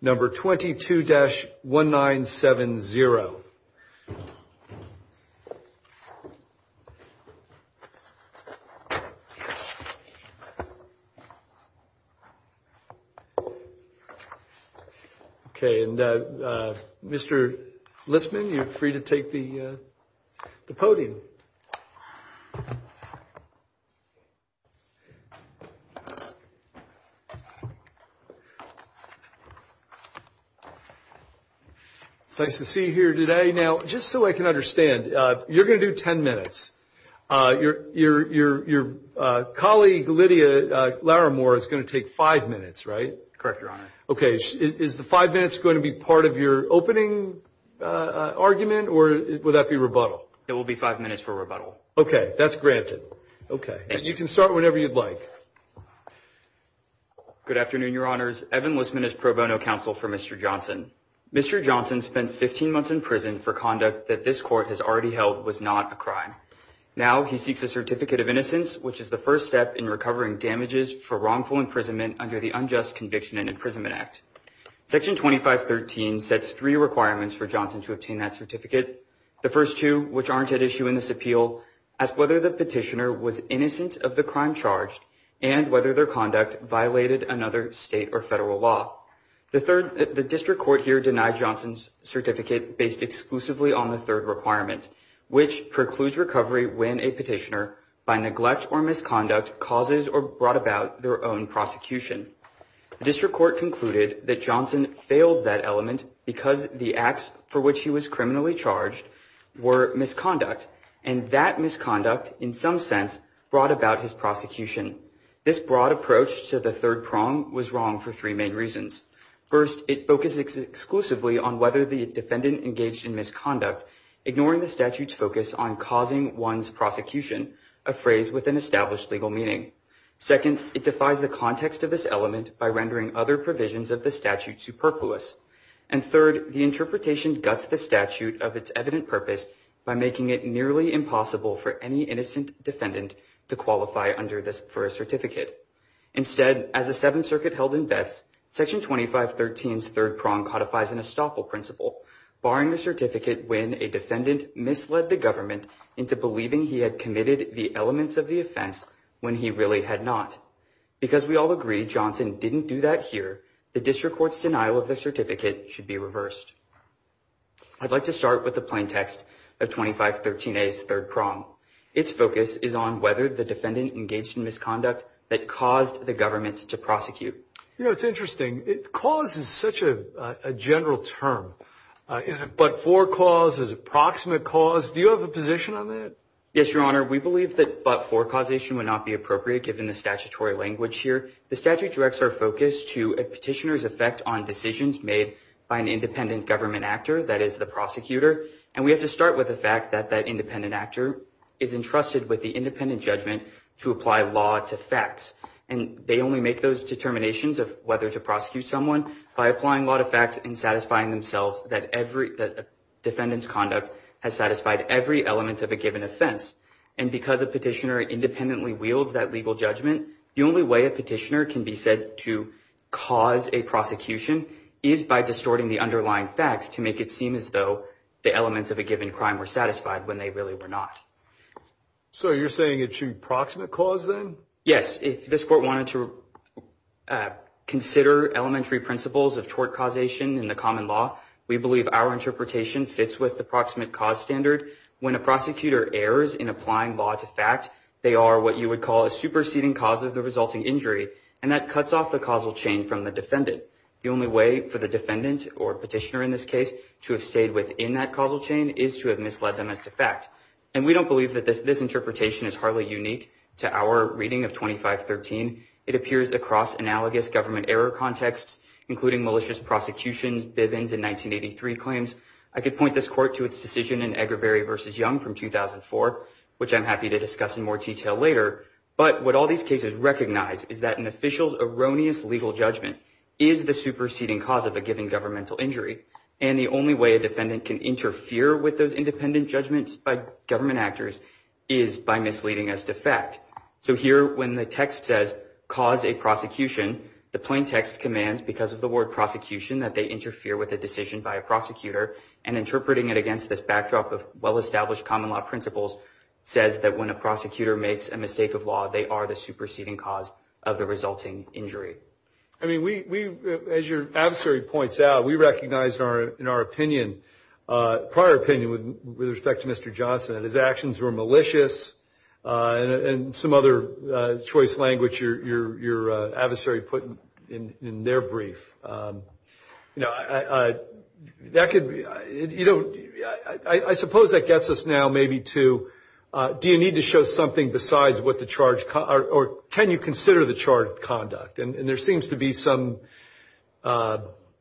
number 22 dash 1970. Okay. And, uh, Mr Listman, you're free to take the, uh, the podium. It's nice to see you here today. Now, just so I can understand, uh, you're going to do 10 minutes. Uh, your, your, your, your, uh, colleague, Lydia Laramore is going to take five minutes, right? Correct, Your Honor. Okay. Is the five minutes going to be part of your opening, uh, argument or would that be rebuttal? It will be five minutes for rebuttal. Okay. That's granted. Okay. And you can start whenever you'd like. Good afternoon, Your Honors. Evan Listman is pro bono counsel for Mr. Johnson. Mr. Johnson spent 15 months in prison for conduct that this court has already held was not a crime. Now he seeks a certificate of innocence, which is the first step in recovering damages for wrongful imprisonment under the unjust conviction and imprisonment act. Section 2513 sets three requirements for Johnson to obtain that certificate. The first two, which aren't at issue in this appeal, ask whether the petitioner was innocent of the crime charged and whether their conduct violated another state or federal law. The third, the district court here denied Johnson's certificate based exclusively on the third requirement, which precludes recovery when a petitioner by neglect or misconduct causes or brought about their own prosecution. The district court concluded that Johnson failed that element because the acts for which he was criminally charged were misconduct and that misconduct in some sense brought about his prosecution. This broad approach to the third prong was wrong for three main reasons. First, it focuses exclusively on whether the defendant engaged in misconduct, ignoring the statute's focus on causing one's prosecution, a phrase with an established legal meaning. Second, it defies the context of this element by rendering other provisions of the statute superfluous. And third, the interpretation guts the statute of its evident purpose by making it nearly impossible for any innocent defendant to qualify under this for a certificate. Instead, as the Seventh Circuit held in Betz, Section 2513's third prong codifies an estoppel principle, barring a certificate when a defendant misled the government into believing he had committed the elements of the offense when he really had not. Because we all agree Johnson didn't do that here, the district court's denial of the certificate should be reversed. I'd like to start with the plain text of 2513A's third prong. Its focus is on whether the defendant engaged in misconduct that caused the government to prosecute. You know, it's interesting. Cause is such a general term. Is it but-for cause? Is it proximate cause? Do you have a position on that? Yes, Your Honor. We believe that but-for causation would not be appropriate given the statutory language here. The statute directs our focus to a petitioner's effect on decisions made by an independent government actor, that is, the prosecutor. And we have to start with the fact that that independent actor is entrusted with the independent judgment to apply law to facts. And they only make those determinations of whether to prosecute someone by applying law to facts and satisfying themselves that every defendant's conduct has satisfied every element of a given offense. And because a petitioner independently wields that legal judgment, the only way a petitioner can be said to cause a prosecution is by distorting the underlying facts to make it seem as though the elements of a given crime were satisfied when they really were not. So you're saying it should be proximate cause then? Yes. If this court wanted to consider elementary principles of tort causation in the common law, we believe our interpretation fits with the proximate cause standard. When a prosecutor errors in applying law to fact, they are what you would call a superseding cause of the resulting injury, and that cuts off the causal chain from the defendant. The only way for the defendant, or petitioner in this case, to have stayed within that causal chain is to have misled them as to fact. And we don't believe that this interpretation is hardly unique to our reading of 2513. It appears across analogous government error contexts, including malicious prosecutions, Bivens, and 1983 claims. I could point this court to its decision in Agravery v. Young from 2004, which I'm happy to discuss in more detail later. But what all these cases recognize is that an official's erroneous legal judgment is the superseding cause of a given governmental injury. And the only way a defendant can interfere with those independent judgments by government actors is by misleading as to fact. So here, when the text says, cause a prosecution, the plain text commands, because of the word prosecution, that they interfere with a decision by a prosecutor. And interpreting it against this backdrop of well-established common law principles says that when a prosecutor makes a mistake of law, they are the superseding cause of the resulting injury. I mean, we, as your adversary points out, we recognize in our opinion, prior opinion with respect to Mr. Johnson, that his actions were malicious and some other choice language your adversary put in their brief. You know, that could be, you know, I suppose that gets us now maybe to do you need to show something besides what the charge, or can you consider the charge of conduct? And there seems to be some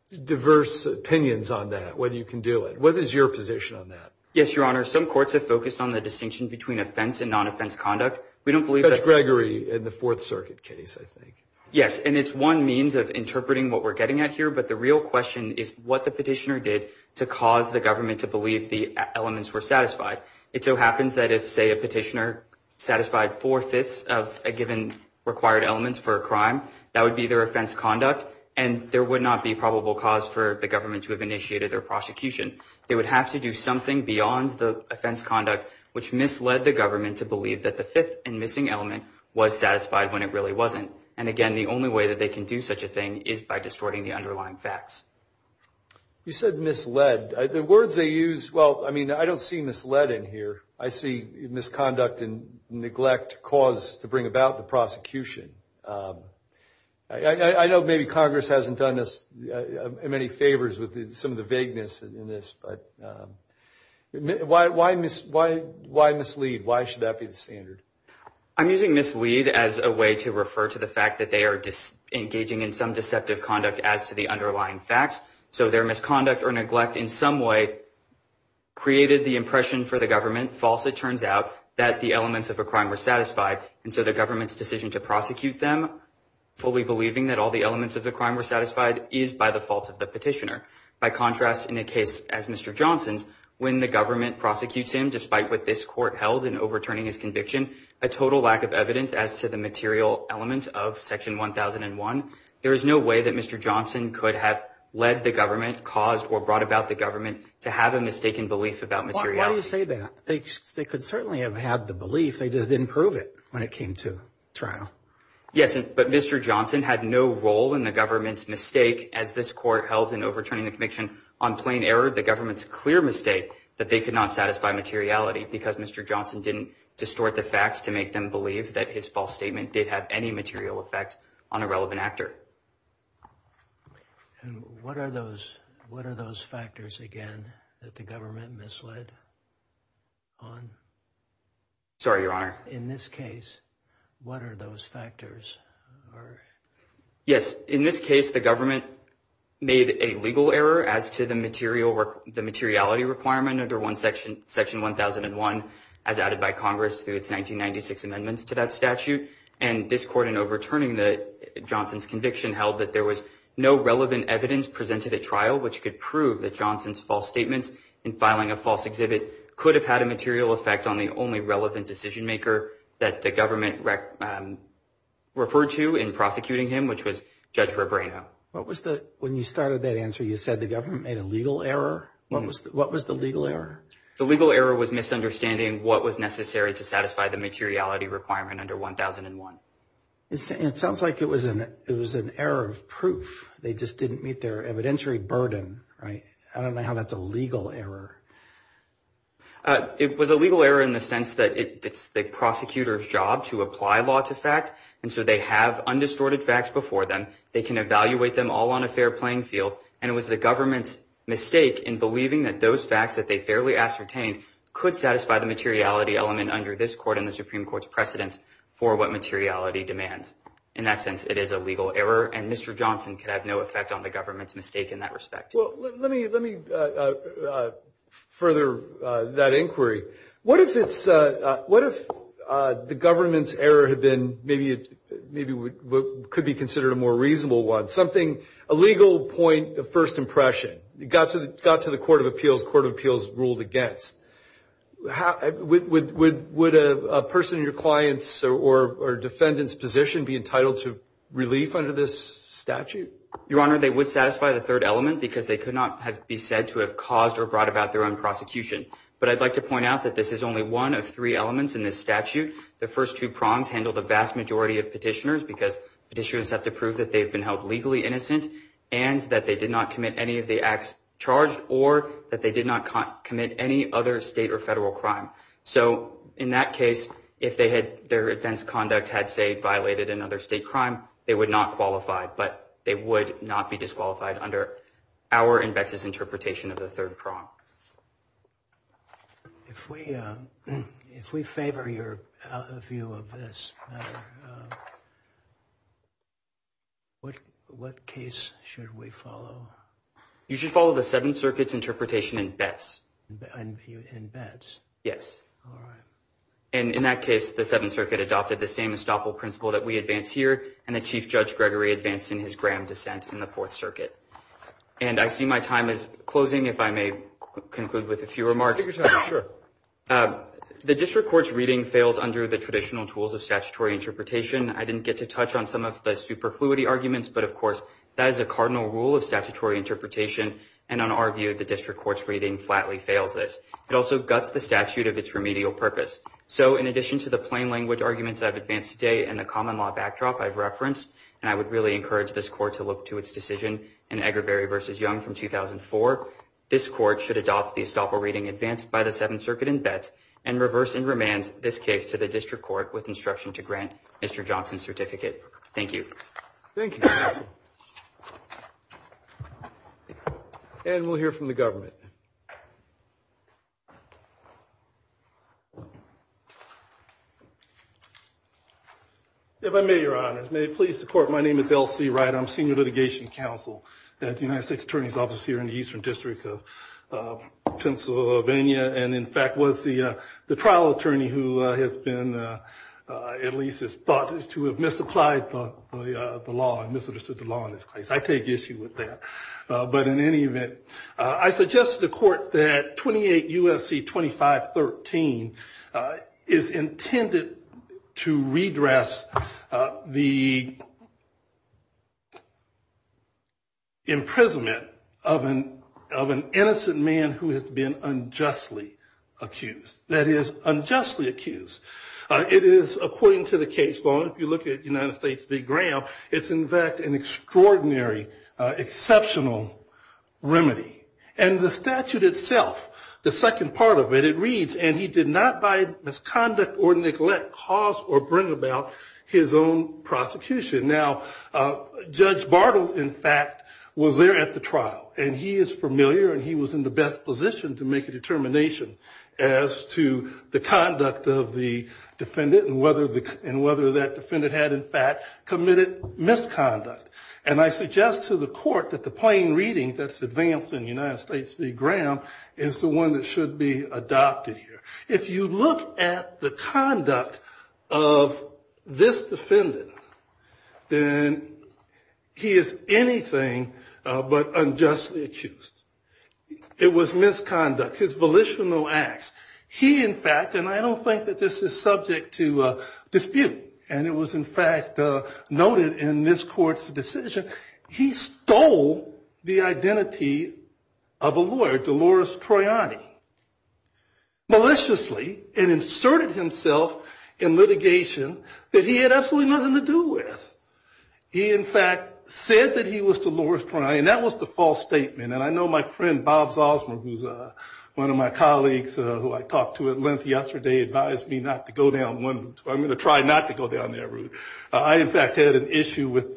diverse opinions on that, whether you can do it. What is your position on that? Yes, Your Honor, some courts have focused on the distinction between offense and non-offense conduct. We don't believe that's Gregory in the Fourth Circuit case, I think. Yes, and it's one means of interpreting what we're getting at here. But the real question is what the petitioner did to cause the government to believe the elements were satisfied. It so happens that if, say, a petitioner satisfied four-fifths of a given required elements for a crime, that would be their offense conduct, and there would not be probable cause for the government to have initiated their prosecution. They would have to do something beyond the offense conduct, which misled the government to believe that the fifth and missing element was satisfied when it really wasn't. And, again, the only way that they can do such a thing is by distorting the underlying facts. You said misled. The words they use, well, I mean, I don't see misled in here. I see misconduct and neglect cause to bring about the prosecution. I know maybe Congress hasn't done us many favors with some of the vagueness in this, but why mislead? Why should that be the standard? I'm using mislead as a way to refer to the fact that they are engaging in some deceptive conduct as to the underlying facts. So their misconduct or neglect in some way created the impression for the government, false it turns out, that the elements of a crime were satisfied. And so the government's decision to prosecute them, fully believing that all the elements of the crime were satisfied, is by the fault of the petitioner. By contrast, in a case as Mr. Johnson's, when the government prosecutes him, despite what this court held in overturning his conviction, a total lack of evidence as to the material elements of Section 1001, there is no way that Mr. Johnson could have led the government, caused or brought about the government, to have a mistaken belief about materiality. Why do you say that? They could certainly have had the belief. They just didn't prove it when it came to trial. Yes, but Mr. Johnson had no role in the government's mistake. As this court held in overturning the conviction on plain error, the government's clear mistake that they could not satisfy materiality because Mr. Johnson didn't distort the facts to make them believe that his false statement did have any material effect on a relevant actor. And what are those factors, again, that the government misled on? Sorry, Your Honor. In this case, what are those factors? Yes, in this case, the government made a legal error as to the materiality requirement under Section 1001 as added by Congress through its 1996 amendments to that statute, and this court in overturning Johnson's conviction held that there was no relevant evidence presented at trial which could prove that Johnson's false statement in filing a false exhibit could have had a material effect on the only relevant decision-maker that the government referred to in prosecuting him, which was Judge Rebrano. When you started that answer, you said the government made a legal error? What was the legal error? The legal error was misunderstanding what was necessary to satisfy the materiality requirement under 1001. It sounds like it was an error of proof. They just didn't meet their evidentiary burden, right? I don't know how that's a legal error. It was a legal error in the sense that it's the prosecutor's job to apply law to fact, and so they have undistorted facts before them. They can evaluate them all on a fair playing field, and it was the government's mistake in believing that those facts that they fairly ascertained could satisfy the materiality element under this court and the Supreme Court's precedence for what materiality demands. In that sense, it is a legal error, and Mr. Johnson could have no effect on the government's mistake in that respect. Well, let me further that inquiry. What if the government's error had been maybe what could be considered a more reasonable one, something, a legal point of first impression? It got to the court of appeals, court of appeals ruled against. Would a person in your client's or defendant's position be entitled to relief under this statute? Your Honor, they would satisfy the third element because they could not be said to have caused or brought about their own prosecution. But I'd like to point out that this is only one of three elements in this statute. The first two prongs handle the vast majority of petitioners because petitioners have to prove that they've been held legally innocent and that they did not commit any of the acts charged or that they did not commit any other state or federal crime. So in that case, if their offense conduct had, say, violated another state crime, they would not qualify, but they would not be disqualified under our and BEX's interpretation of the third prong. If we favor your view of this matter, what case should we follow? You should follow the Seventh Circuit's interpretation in BEX. In BEX? Yes. All right. And in that case, the Seventh Circuit adopted the same estoppel principle that we advance here, and the Chief Judge Gregory advanced in his Graham dissent in the Fourth Circuit. And I see my time is closing. If I may conclude with a few remarks. Take your time. Sure. The district court's reading fails under the traditional tools of statutory interpretation. I didn't get to touch on some of the superfluity arguments, but, of course, that is a cardinal rule of statutory interpretation, and in our view, the district court's reading flatly fails this. It also guts the statute of its remedial purpose. And I would really encourage this court to look to its decision in Egerberry v. Young from 2004. This court should adopt the estoppel reading advanced by the Seventh Circuit in BEX and reverse and remand this case to the district court with instruction to grant Mr. Johnson's certificate. Thank you. Thank you. And we'll hear from the government. If I may, Your Honors, may it please the court, my name is L.C. Wright. I'm Senior Litigation Counsel at the United States Attorney's Office here in the Eastern District of Pennsylvania and, in fact, was the trial attorney who has been, at least is thought to have misapplied the law and misunderstood the law in this case. I take issue with that. 28 U.S.C. 2513 is intended to redress the imprisonment of an innocent man who has been unjustly accused. That is, unjustly accused. It is, according to the case law, if you look at United States v. Graham, it's, in fact, an extraordinary, exceptional remedy. And the statute itself, the second part of it, it reads, and he did not by misconduct or neglect cause or bring about his own prosecution. Now, Judge Bartle, in fact, was there at the trial, and he is familiar and he was in the best position to make a determination as to the conduct of the defendant and whether that defendant had, in fact, committed misconduct. And I suggest to the court that the plain reading that's advanced in United States v. Graham is the one that should be adopted here. If you look at the conduct of this defendant, then he is anything but unjustly accused. It was misconduct, his volitional acts. He, in fact, and I don't think that this is subject to dispute, and it was, in fact, noted in this court's decision, he stole the identity of a lawyer, Delores Troiani, maliciously, and inserted himself in litigation that he had absolutely nothing to do with. He, in fact, said that he was Delores Troiani, and that was the false statement. And I know my friend Bob Zosmer, who's one of my colleagues who I talked to at length yesterday, advised me not to go down one. So I'm going to try not to go down that route. I, in fact, had an issue with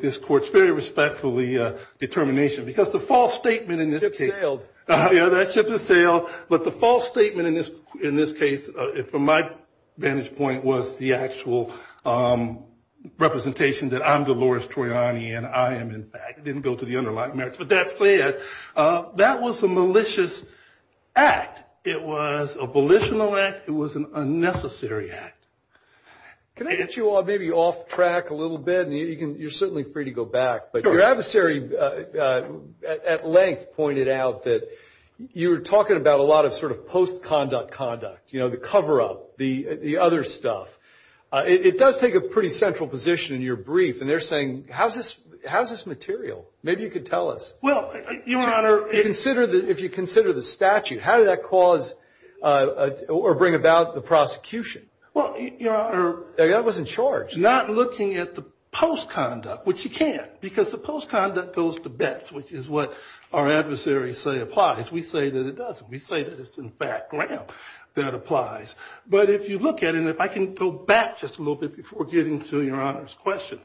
this court's very respectfully determination, because the false statement in this case. Chip sailed. Yeah, that chip has sailed. But the false statement in this case, from my vantage point, was the actual representation that I'm Delores Troiani, and I am, in fact, didn't go to the underlying merits. But that said, that was a malicious act. It was a volitional act. It was an unnecessary act. Can I get you all maybe off track a little bit? You're certainly free to go back. But your adversary, at length, pointed out that you were talking about a lot of sort of post-conduct conduct, you know, the cover-up, the other stuff. It does take a pretty central position in your brief, and they're saying, how's this material? Maybe you could tell us. Well, Your Honor. If you consider the statute, how did that cause or bring about the prosecution? Well, Your Honor. That was in charge. Not looking at the post-conduct, which you can't, because the post-conduct goes to bets, which is what our adversaries say applies. We say that it doesn't. We say that it's in background that applies. But if you look at it, and if I can go back just a little bit before getting to Your Honor's question,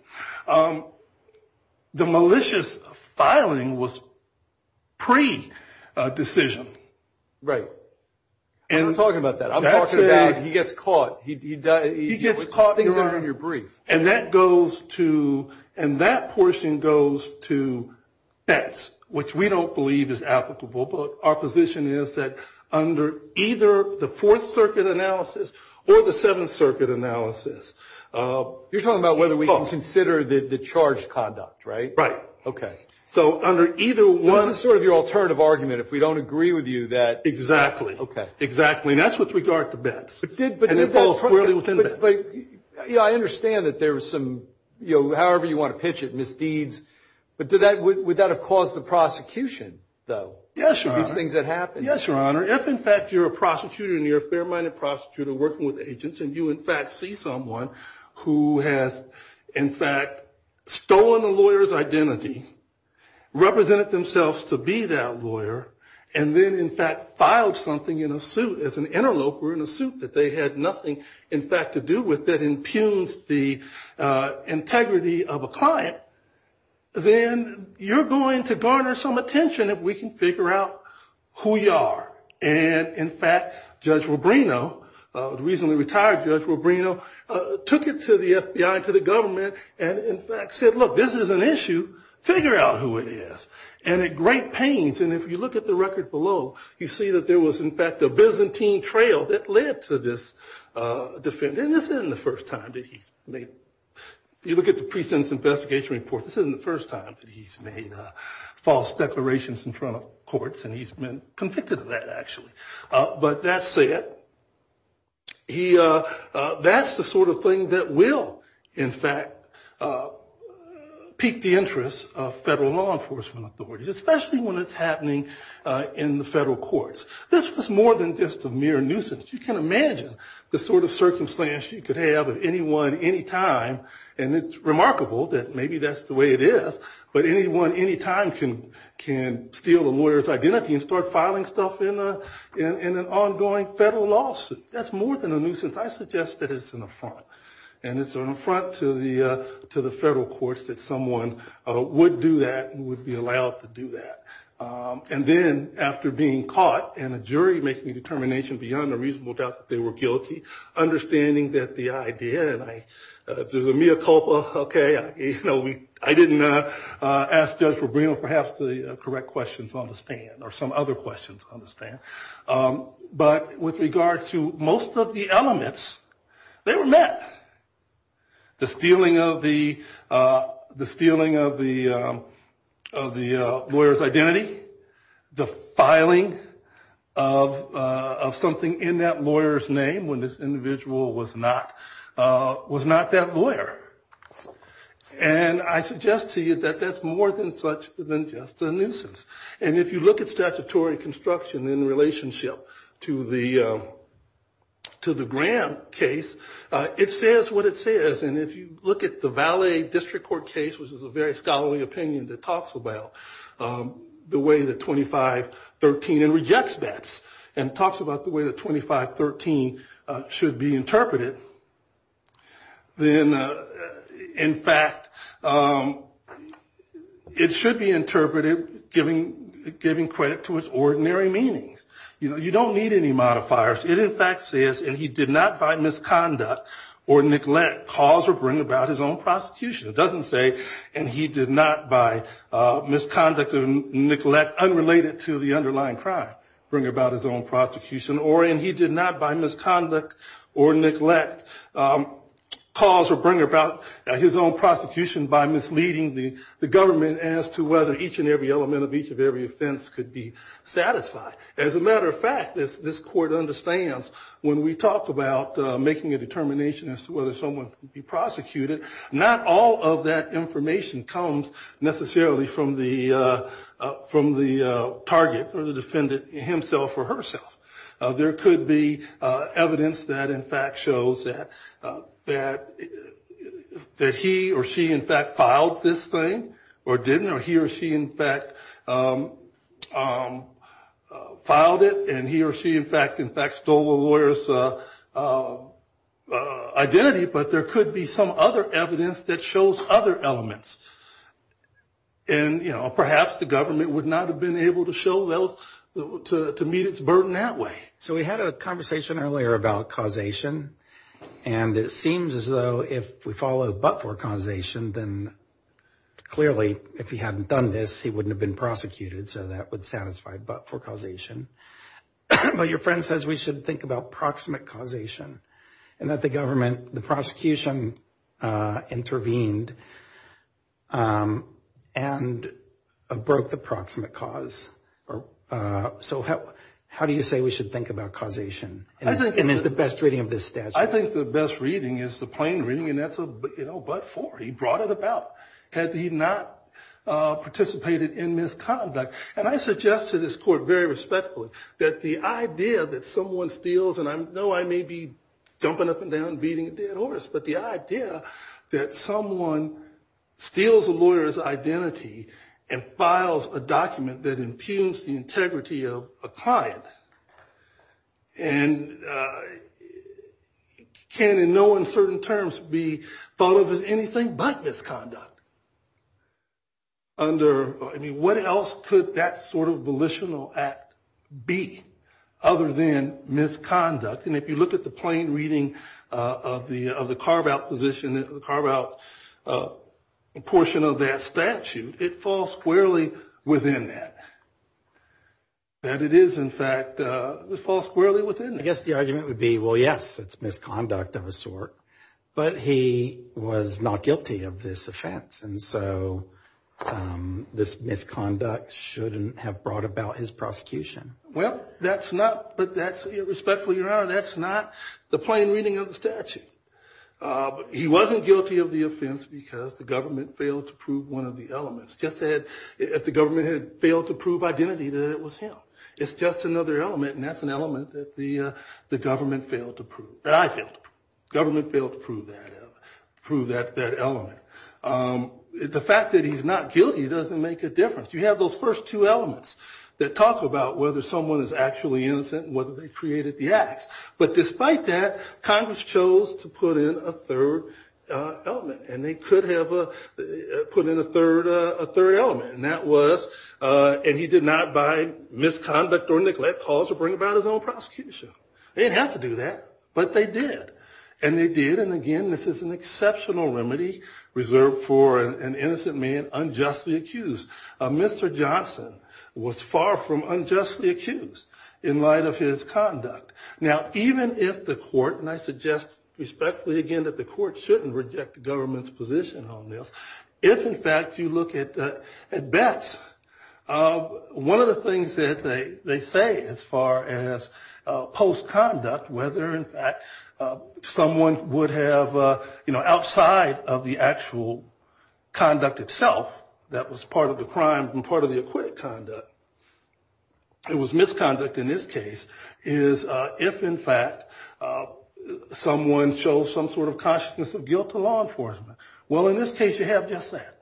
the malicious filing was pre-decision. Right. We're not talking about that. I'm talking about he gets caught. He gets caught, Your Honor. Things are in your brief. And that goes to, and that portion goes to bets, which we don't believe is applicable. But our position is that under either the Fourth Circuit analysis or the Seventh Circuit analysis. You're talking about whether we can consider the charged conduct, right? Right. Okay. So under either one. This is sort of your alternative argument. If we don't agree with you, that. Exactly. Okay. Exactly. And that's with regard to bets. And it falls squarely within bets. But I understand that there was some, however you want to pitch it, misdeeds. But would that have caused the prosecution, though? Yes, Your Honor. These things that happened. Yes, Your Honor. If, in fact, you're a prosecutor and you're a fair-minded prosecutor working with agents, and you, in fact, see someone who has, in fact, stolen a lawyer's identity, represented themselves to be that lawyer, and then, in fact, filed something in a suit as an interloper in a suit that they had nothing, in fact, to do with that impugns the integrity of a client, then you're going to garner some attention if we can figure out who you are. And, in fact, Judge Rubino, the recently retired Judge Rubino, took it to the FBI, to the government, and, in fact, said, look, this is an issue. Figure out who it is. And it great pains. And if you look at the record below, you see that there was, in fact, a Byzantine trail that led to this defendant. And this isn't the first time that he's made. You look at the precinct's investigation report. This isn't the first time that he's made false declarations in front of courts, and he's been convicted of that, actually. But that said, that's the sort of thing that will, in fact, pique the interest of federal law enforcement authorities, especially when it's happening in the federal courts. This was more than just a mere nuisance. You can imagine the sort of circumstance you could have of anyone, any time, and it's remarkable that maybe that's the way it is, but anyone, any time, can steal a lawyer's identity and start filing stuff in an ongoing federal lawsuit. That's more than a nuisance. I suggest that it's an affront. And it's an affront to the federal courts that someone would do that and would be allowed to do that. And then, after being caught, and a jury making a determination beyond a reasonable doubt that they were guilty, understanding that the idea, and if there's a mea culpa, OK, I didn't ask Judge Rubino, perhaps, to correct questions on the stand, or some other questions on the stand. But with regard to most of the elements, they were met. The stealing of the lawyer's identity, the filing of something in that lawyer's name when this individual was not that lawyer. And I suggest to you that that's more than just a nuisance. And if you look at statutory construction in relationship to the Graham case, it says what it says. And if you look at the Valley District Court case, which is a very scholarly opinion that talks about the way that 2513, and rejects that, and talks about the way that 2513 should be interpreted, then, in fact, it should be interpreted giving credit to its ordinary meanings. You don't need any modifiers. It, in fact, says, and he did not, by misconduct or neglect, cause or bring about his own prosecution. It doesn't say, and he did not, by misconduct or neglect, unrelated to the underlying crime, bring about his own prosecution. Or, and he did not, by misconduct or neglect, cause or bring about his own prosecution by misleading the government as to whether each and every element of each of every offense could be satisfied. As a matter of fact, this court understands when we talk about making a determination as to whether someone can be prosecuted, not all of that information comes necessarily from the target, or the defendant himself or herself. There could be evidence that, in fact, shows that he or she, in fact, filed this thing, or didn't, or he or she, in fact, filed it, and he or she, in fact, stole the lawyer's identity. But there could be some other evidence that shows other elements. And, you know, perhaps the government would not have been able to show those, to meet its burden that way. So we had a conversation earlier about causation. And it seems as though if we follow but for causation, then clearly, if he hadn't done this, he wouldn't have been prosecuted. So that would satisfy but for causation. But your friend says we should think about proximate causation, and that the government, the prosecution intervened and broke the proximate cause. So how do you say we should think about causation? And is the best reading of this statute? I think the best reading is the plain reading, and that's a but for. He brought it about had he not participated in misconduct. And I suggest to this court, very respectfully, that the idea that someone steals, and I know I may be jumping up and down and beating a dead horse, but the idea that someone steals a lawyer's identity and files a document that impugns the integrity of a client, and can in no uncertain terms be thought of as anything but misconduct. Under, I mean, what else could that sort of volitional act be other than misconduct? And if you look at the plain reading of the carve-out position, the carve-out portion of that statute, it falls squarely within that. That it is, in fact, it falls squarely within that. I guess the argument would be, well, yes, it's misconduct of a sort, but he was not guilty of this offense, and so this misconduct shouldn't have brought about his prosecution. Well, that's not, but that's, respectfully, Your Honor, that's not the plain reading of the statute. He wasn't guilty of the offense because the government failed to prove one of the elements, just that the government had failed to prove identity that it was him. It's just another element, and that's an element that the government failed to prove, that I failed to prove. The government failed to prove that element. The fact that he's not guilty doesn't make a difference. You have those first two elements that talk about whether someone is actually innocent and whether they created the acts. But despite that, Congress chose to put in a third element, and they could have put in a third element, and that was, and he did not, by misconduct or neglect, cause or bring about his own prosecution. They didn't have to do that, but they did. And they did, and again, this is an exceptional remedy reserved for an innocent man unjustly accused. Mr. Johnson was far from unjustly accused in light of his conduct. Now, even if the court, and I suggest, respectfully, again, that the court shouldn't reject the government's position on this, if, in fact, you look at Betts, one of the things that they say as far as post-conduct, whether, in fact, someone would have, you know, outside of the actual conduct itself, that was part of the crime and part of the acquitted conduct, it was misconduct in this case, is if, in fact, someone shows some sort of consciousness of guilt to law enforcement. Well, in this case, you have just that.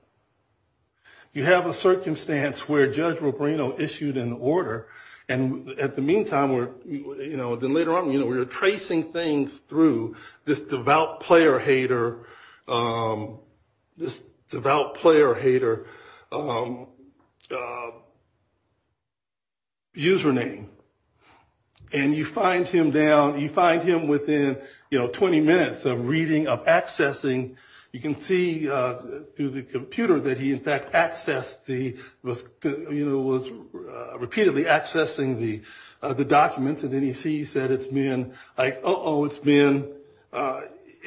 You have a circumstance where Judge Rubino issued an order, and at the meantime, you know, then later on, you know, we were tracing things through this devout player-hater, this devout player-hater user name. And you find him down, you find him within, you know, 20 minutes of reading, of accessing, you can see through the computer that he, in fact, accessed the, you know, was repeatedly accessing the documents, and then he sees that it's been, like, uh-oh, it's been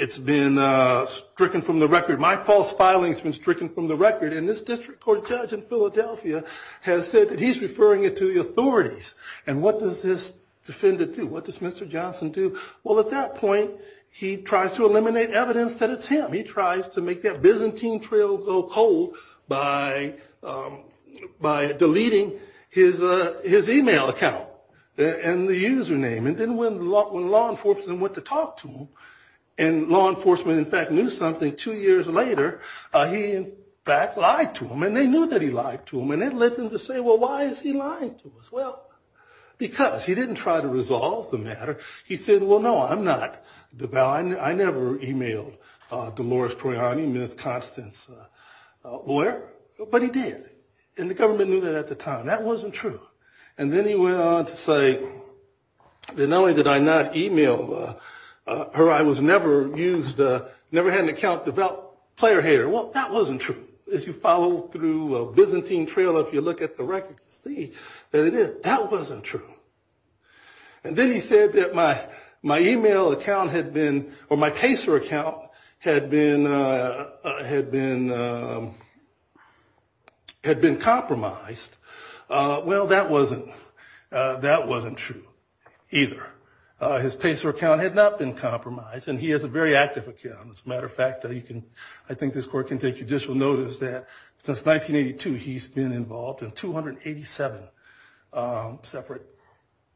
stricken from the record. My false filing's been stricken from the record, and this district court judge in Philadelphia has said that he's referring it to the authorities. And what does this defendant do? What does Mr. Johnson do? Well, at that point, he tries to eliminate evidence that it's him. He tries to make that Byzantine trail go cold by deleting his email account and the user name. And then when law enforcement went to talk to him, and law enforcement, in fact, knew something two years later, he, in fact, lied to him, and they knew that he lied to them, and it led them to say, well, why is he lying to us? Well, because he didn't try to resolve the matter. He said, well, no, I'm not. I never emailed Dolores Proiani, Ms. Constance's lawyer, but he did, and the government knew that at the time. That wasn't true. And then he went on to say that not only did I not email her, I was never used, never had an account developed, player hater. Well, that wasn't true. If you follow through a Byzantine trail, if you look at the record, see that it is. That wasn't true. And then he said that my email account had been, or my Pacer account had been compromised. Well, that wasn't true either. His Pacer account had not been compromised, and he has a very active account. As a matter of fact, I think this court can take judicial notice that since 1982, he's been involved in 287 separate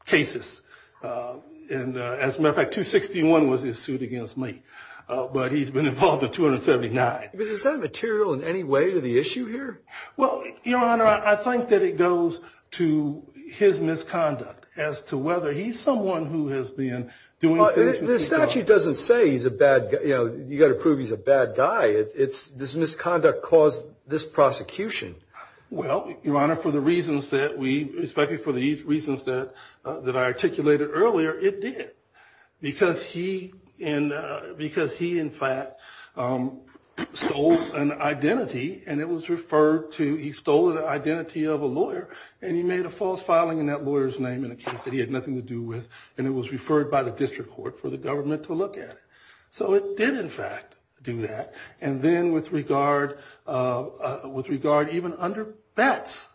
cases. And as a matter of fact, 261 was his suit against me, but he's been involved in 279. But is that material in any way to the issue here? Well, Your Honor, I think that it goes to his misconduct as to whether he's someone who has been doing things with his daughter. This statute doesn't say he's a bad guy. You know, you've got to prove he's a bad guy. This misconduct caused this prosecution. Well, Your Honor, for the reasons that we, especially for the reasons that I articulated earlier, it did. Because he, in fact, stole an identity, and it was referred to, he stole the identity of a lawyer, and he made a false filing in that lawyer's name in a case that he had nothing to do with. And it was referred by the district court for the government to look at. So it did, in fact, do that. And then with regard, even under bets,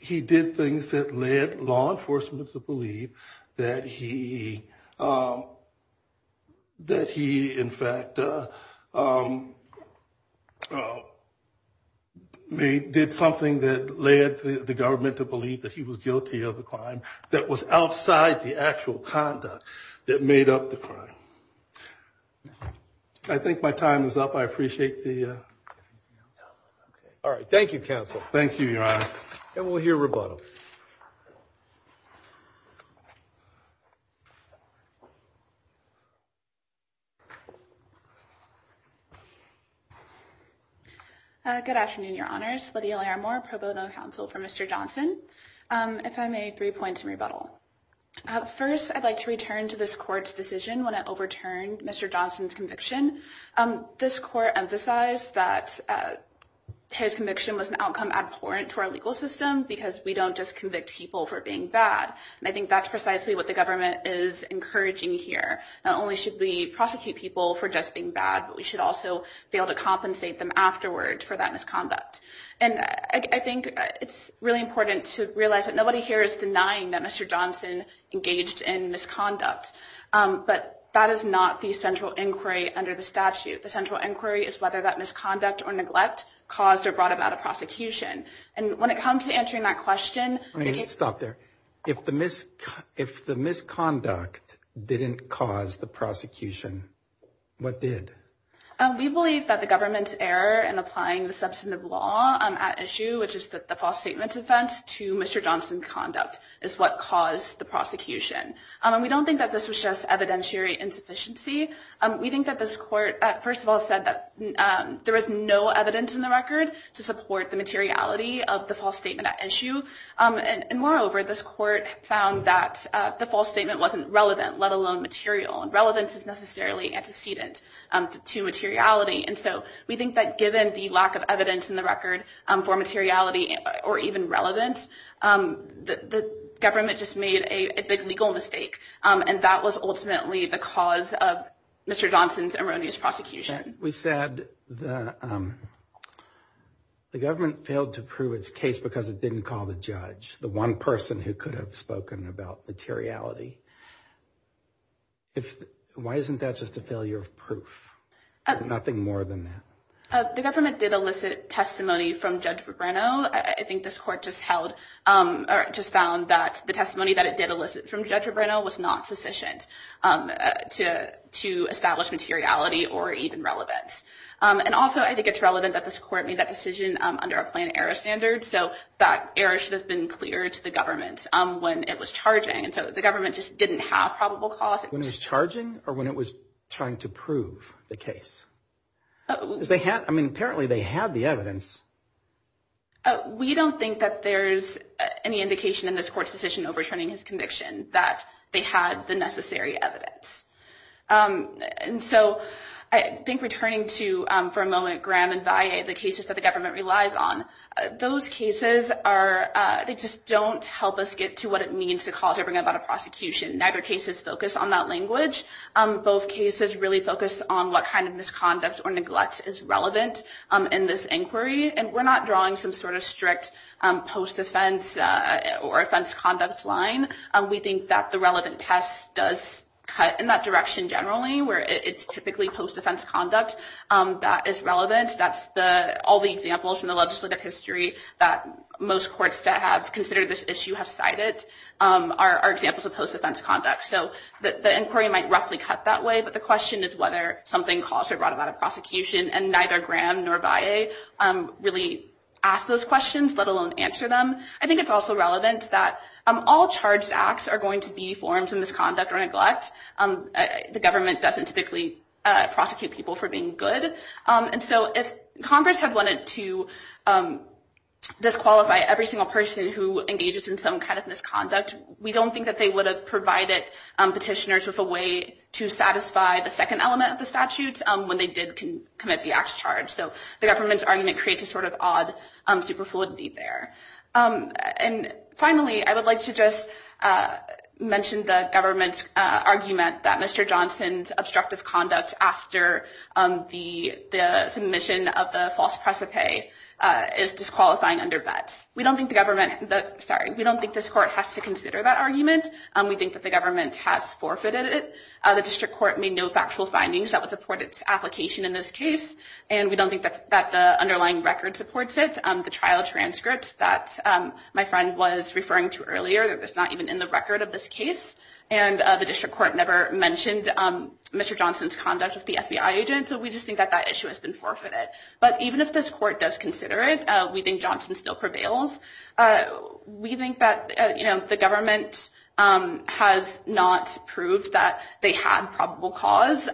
he did things that led law enforcement to believe that he, in fact, did something that led the government to believe that he was guilty of the crime that was outside the actual conduct that made up the crime. I think my time is up. I appreciate the... All right. Thank you, counsel. Thank you, Your Honor. And we'll hear rebuttal. Good afternoon, Your Honors. Lydia Laramore, pro bono counsel for Mr. Johnson. If I may, three points in rebuttal. First, I'd like to return to this court's decision when it overturned Mr. Johnson's conviction. This court emphasized that his conviction was an outcome abhorrent to our legal system because we don't just convict people for being bad. And I think that's precisely what the government is encouraging here. Not only should we prosecute people for just being bad, but we should also be able to compensate them afterwards for that misconduct. And I think it's really important to realize that nobody here is denying that Mr. Johnson engaged in misconduct. But that is not the central inquiry under the statute. The central inquiry is whether that misconduct or neglect caused or brought about a prosecution. And when it comes to answering that question... Stop there. If the misconduct didn't cause the prosecution, what did? We believe that the government's error in applying the substantive law at issue, which is the false statement offense, to Mr. Johnson's conduct is what caused the prosecution. We don't think that this was just evidentiary insufficiency. We think that this court, first of all, said that there is no evidence in the record to support the materiality of the false statement at issue. And moreover, this court found that the false statement wasn't relevant, let alone material. And relevance is necessarily antecedent to materiality. And so we think that given the lack of evidence in the record for materiality or even relevance, the government just made a big legal mistake. And that was ultimately the cause of Mr. Johnson's erroneous prosecution. We said the government failed to prove its case because it didn't call the judge, the one person who could have spoken about materiality. Why isn't that just a failure of proof? Nothing more than that. The government did elicit testimony from Judge Brennau. I think this court just held or just found that the testimony that it did elicit from Judge Brennau was not sufficient to to establish materiality or even relevance. And also, I think it's relevant that this court made that decision under a plan error standard. So that error should have been clear to the government when it was charging. And so the government just didn't have probable cause when it was charging or when it was trying to prove the case. I mean, apparently they had the evidence. We don't think that there's any indication in this court's decision overturning his conviction that they had the necessary evidence. And so I think returning to, for a moment, Graham and Valle, the cases that the government relies on. Those cases are they just don't help us get to what it means to cause or bring about a prosecution. Neither case is focused on that language. Both cases really focus on what kind of misconduct or neglect is relevant in this inquiry. And we're not drawing some sort of strict post-offense or offense conduct line. We think that the relevant test does cut in that direction generally, where it's typically post-offense conduct that is relevant. That's all the examples from the legislative history that most courts that have considered this issue have cited are examples of post-offense conduct. So the inquiry might roughly cut that way, but the question is whether something caused or brought about a prosecution. And neither Graham nor Valle really ask those questions, let alone answer them. I think it's also relevant that all charged acts are going to be forms of misconduct or neglect. The government doesn't typically prosecute people for being good. And so if Congress had wanted to disqualify every single person who engages in some kind of misconduct, we don't think that they would have provided petitioners with a way to satisfy the second element of the statute when they did commit the act to charge. So the government's argument creates a sort of odd superfluidity there. And finally, I would like to just mention the government's argument that Mr. Johnson's obstructive conduct after the submission of the false precipice is disqualifying under bets. We don't think the government, sorry, we don't think this court has to consider that argument. We think that the government has forfeited it. The district court made no factual findings that would support its application in this case. And we don't think that the underlying record supports it. The trial transcripts that my friend was referring to earlier, that's not even in the record of this case. And the district court never mentioned Mr. Johnson's conduct with the FBI agent. So we just think that that issue has been forfeited. But even if this court does consider it, we think Johnson still prevails. We think that, you know, the government has not proved that they had probable cause,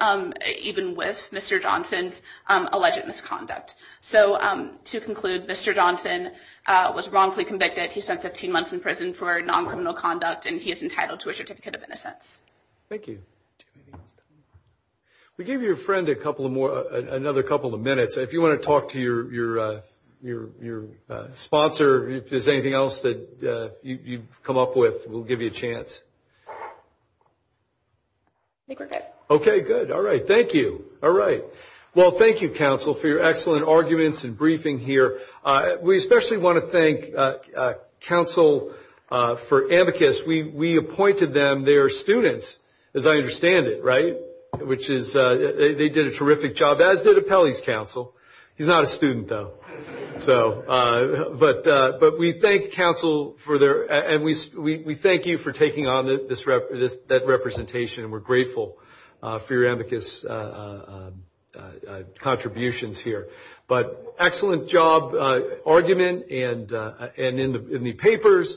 even with Mr. Johnson's alleged misconduct. So to conclude, Mr. Johnson was wrongfully convicted. He spent 15 months in prison for non-criminal conduct, and he is entitled to a certificate of innocence. Thank you. We gave your friend another couple of minutes. If you want to talk to your sponsor, if there's anything else that you've come up with, we'll give you a chance. I think we're good. Okay, good. All right. Thank you. All right. Well, thank you, counsel, for your excellent arguments and briefing here. We especially want to thank counsel for amicus. We appointed them. And they are students, as I understand it, right, which is they did a terrific job, as did Appellee's counsel. He's not a student, though. But we thank counsel for their – and we thank you for taking on that representation, and we're grateful for your amicus contributions here. But excellent job, argument, and in the papers.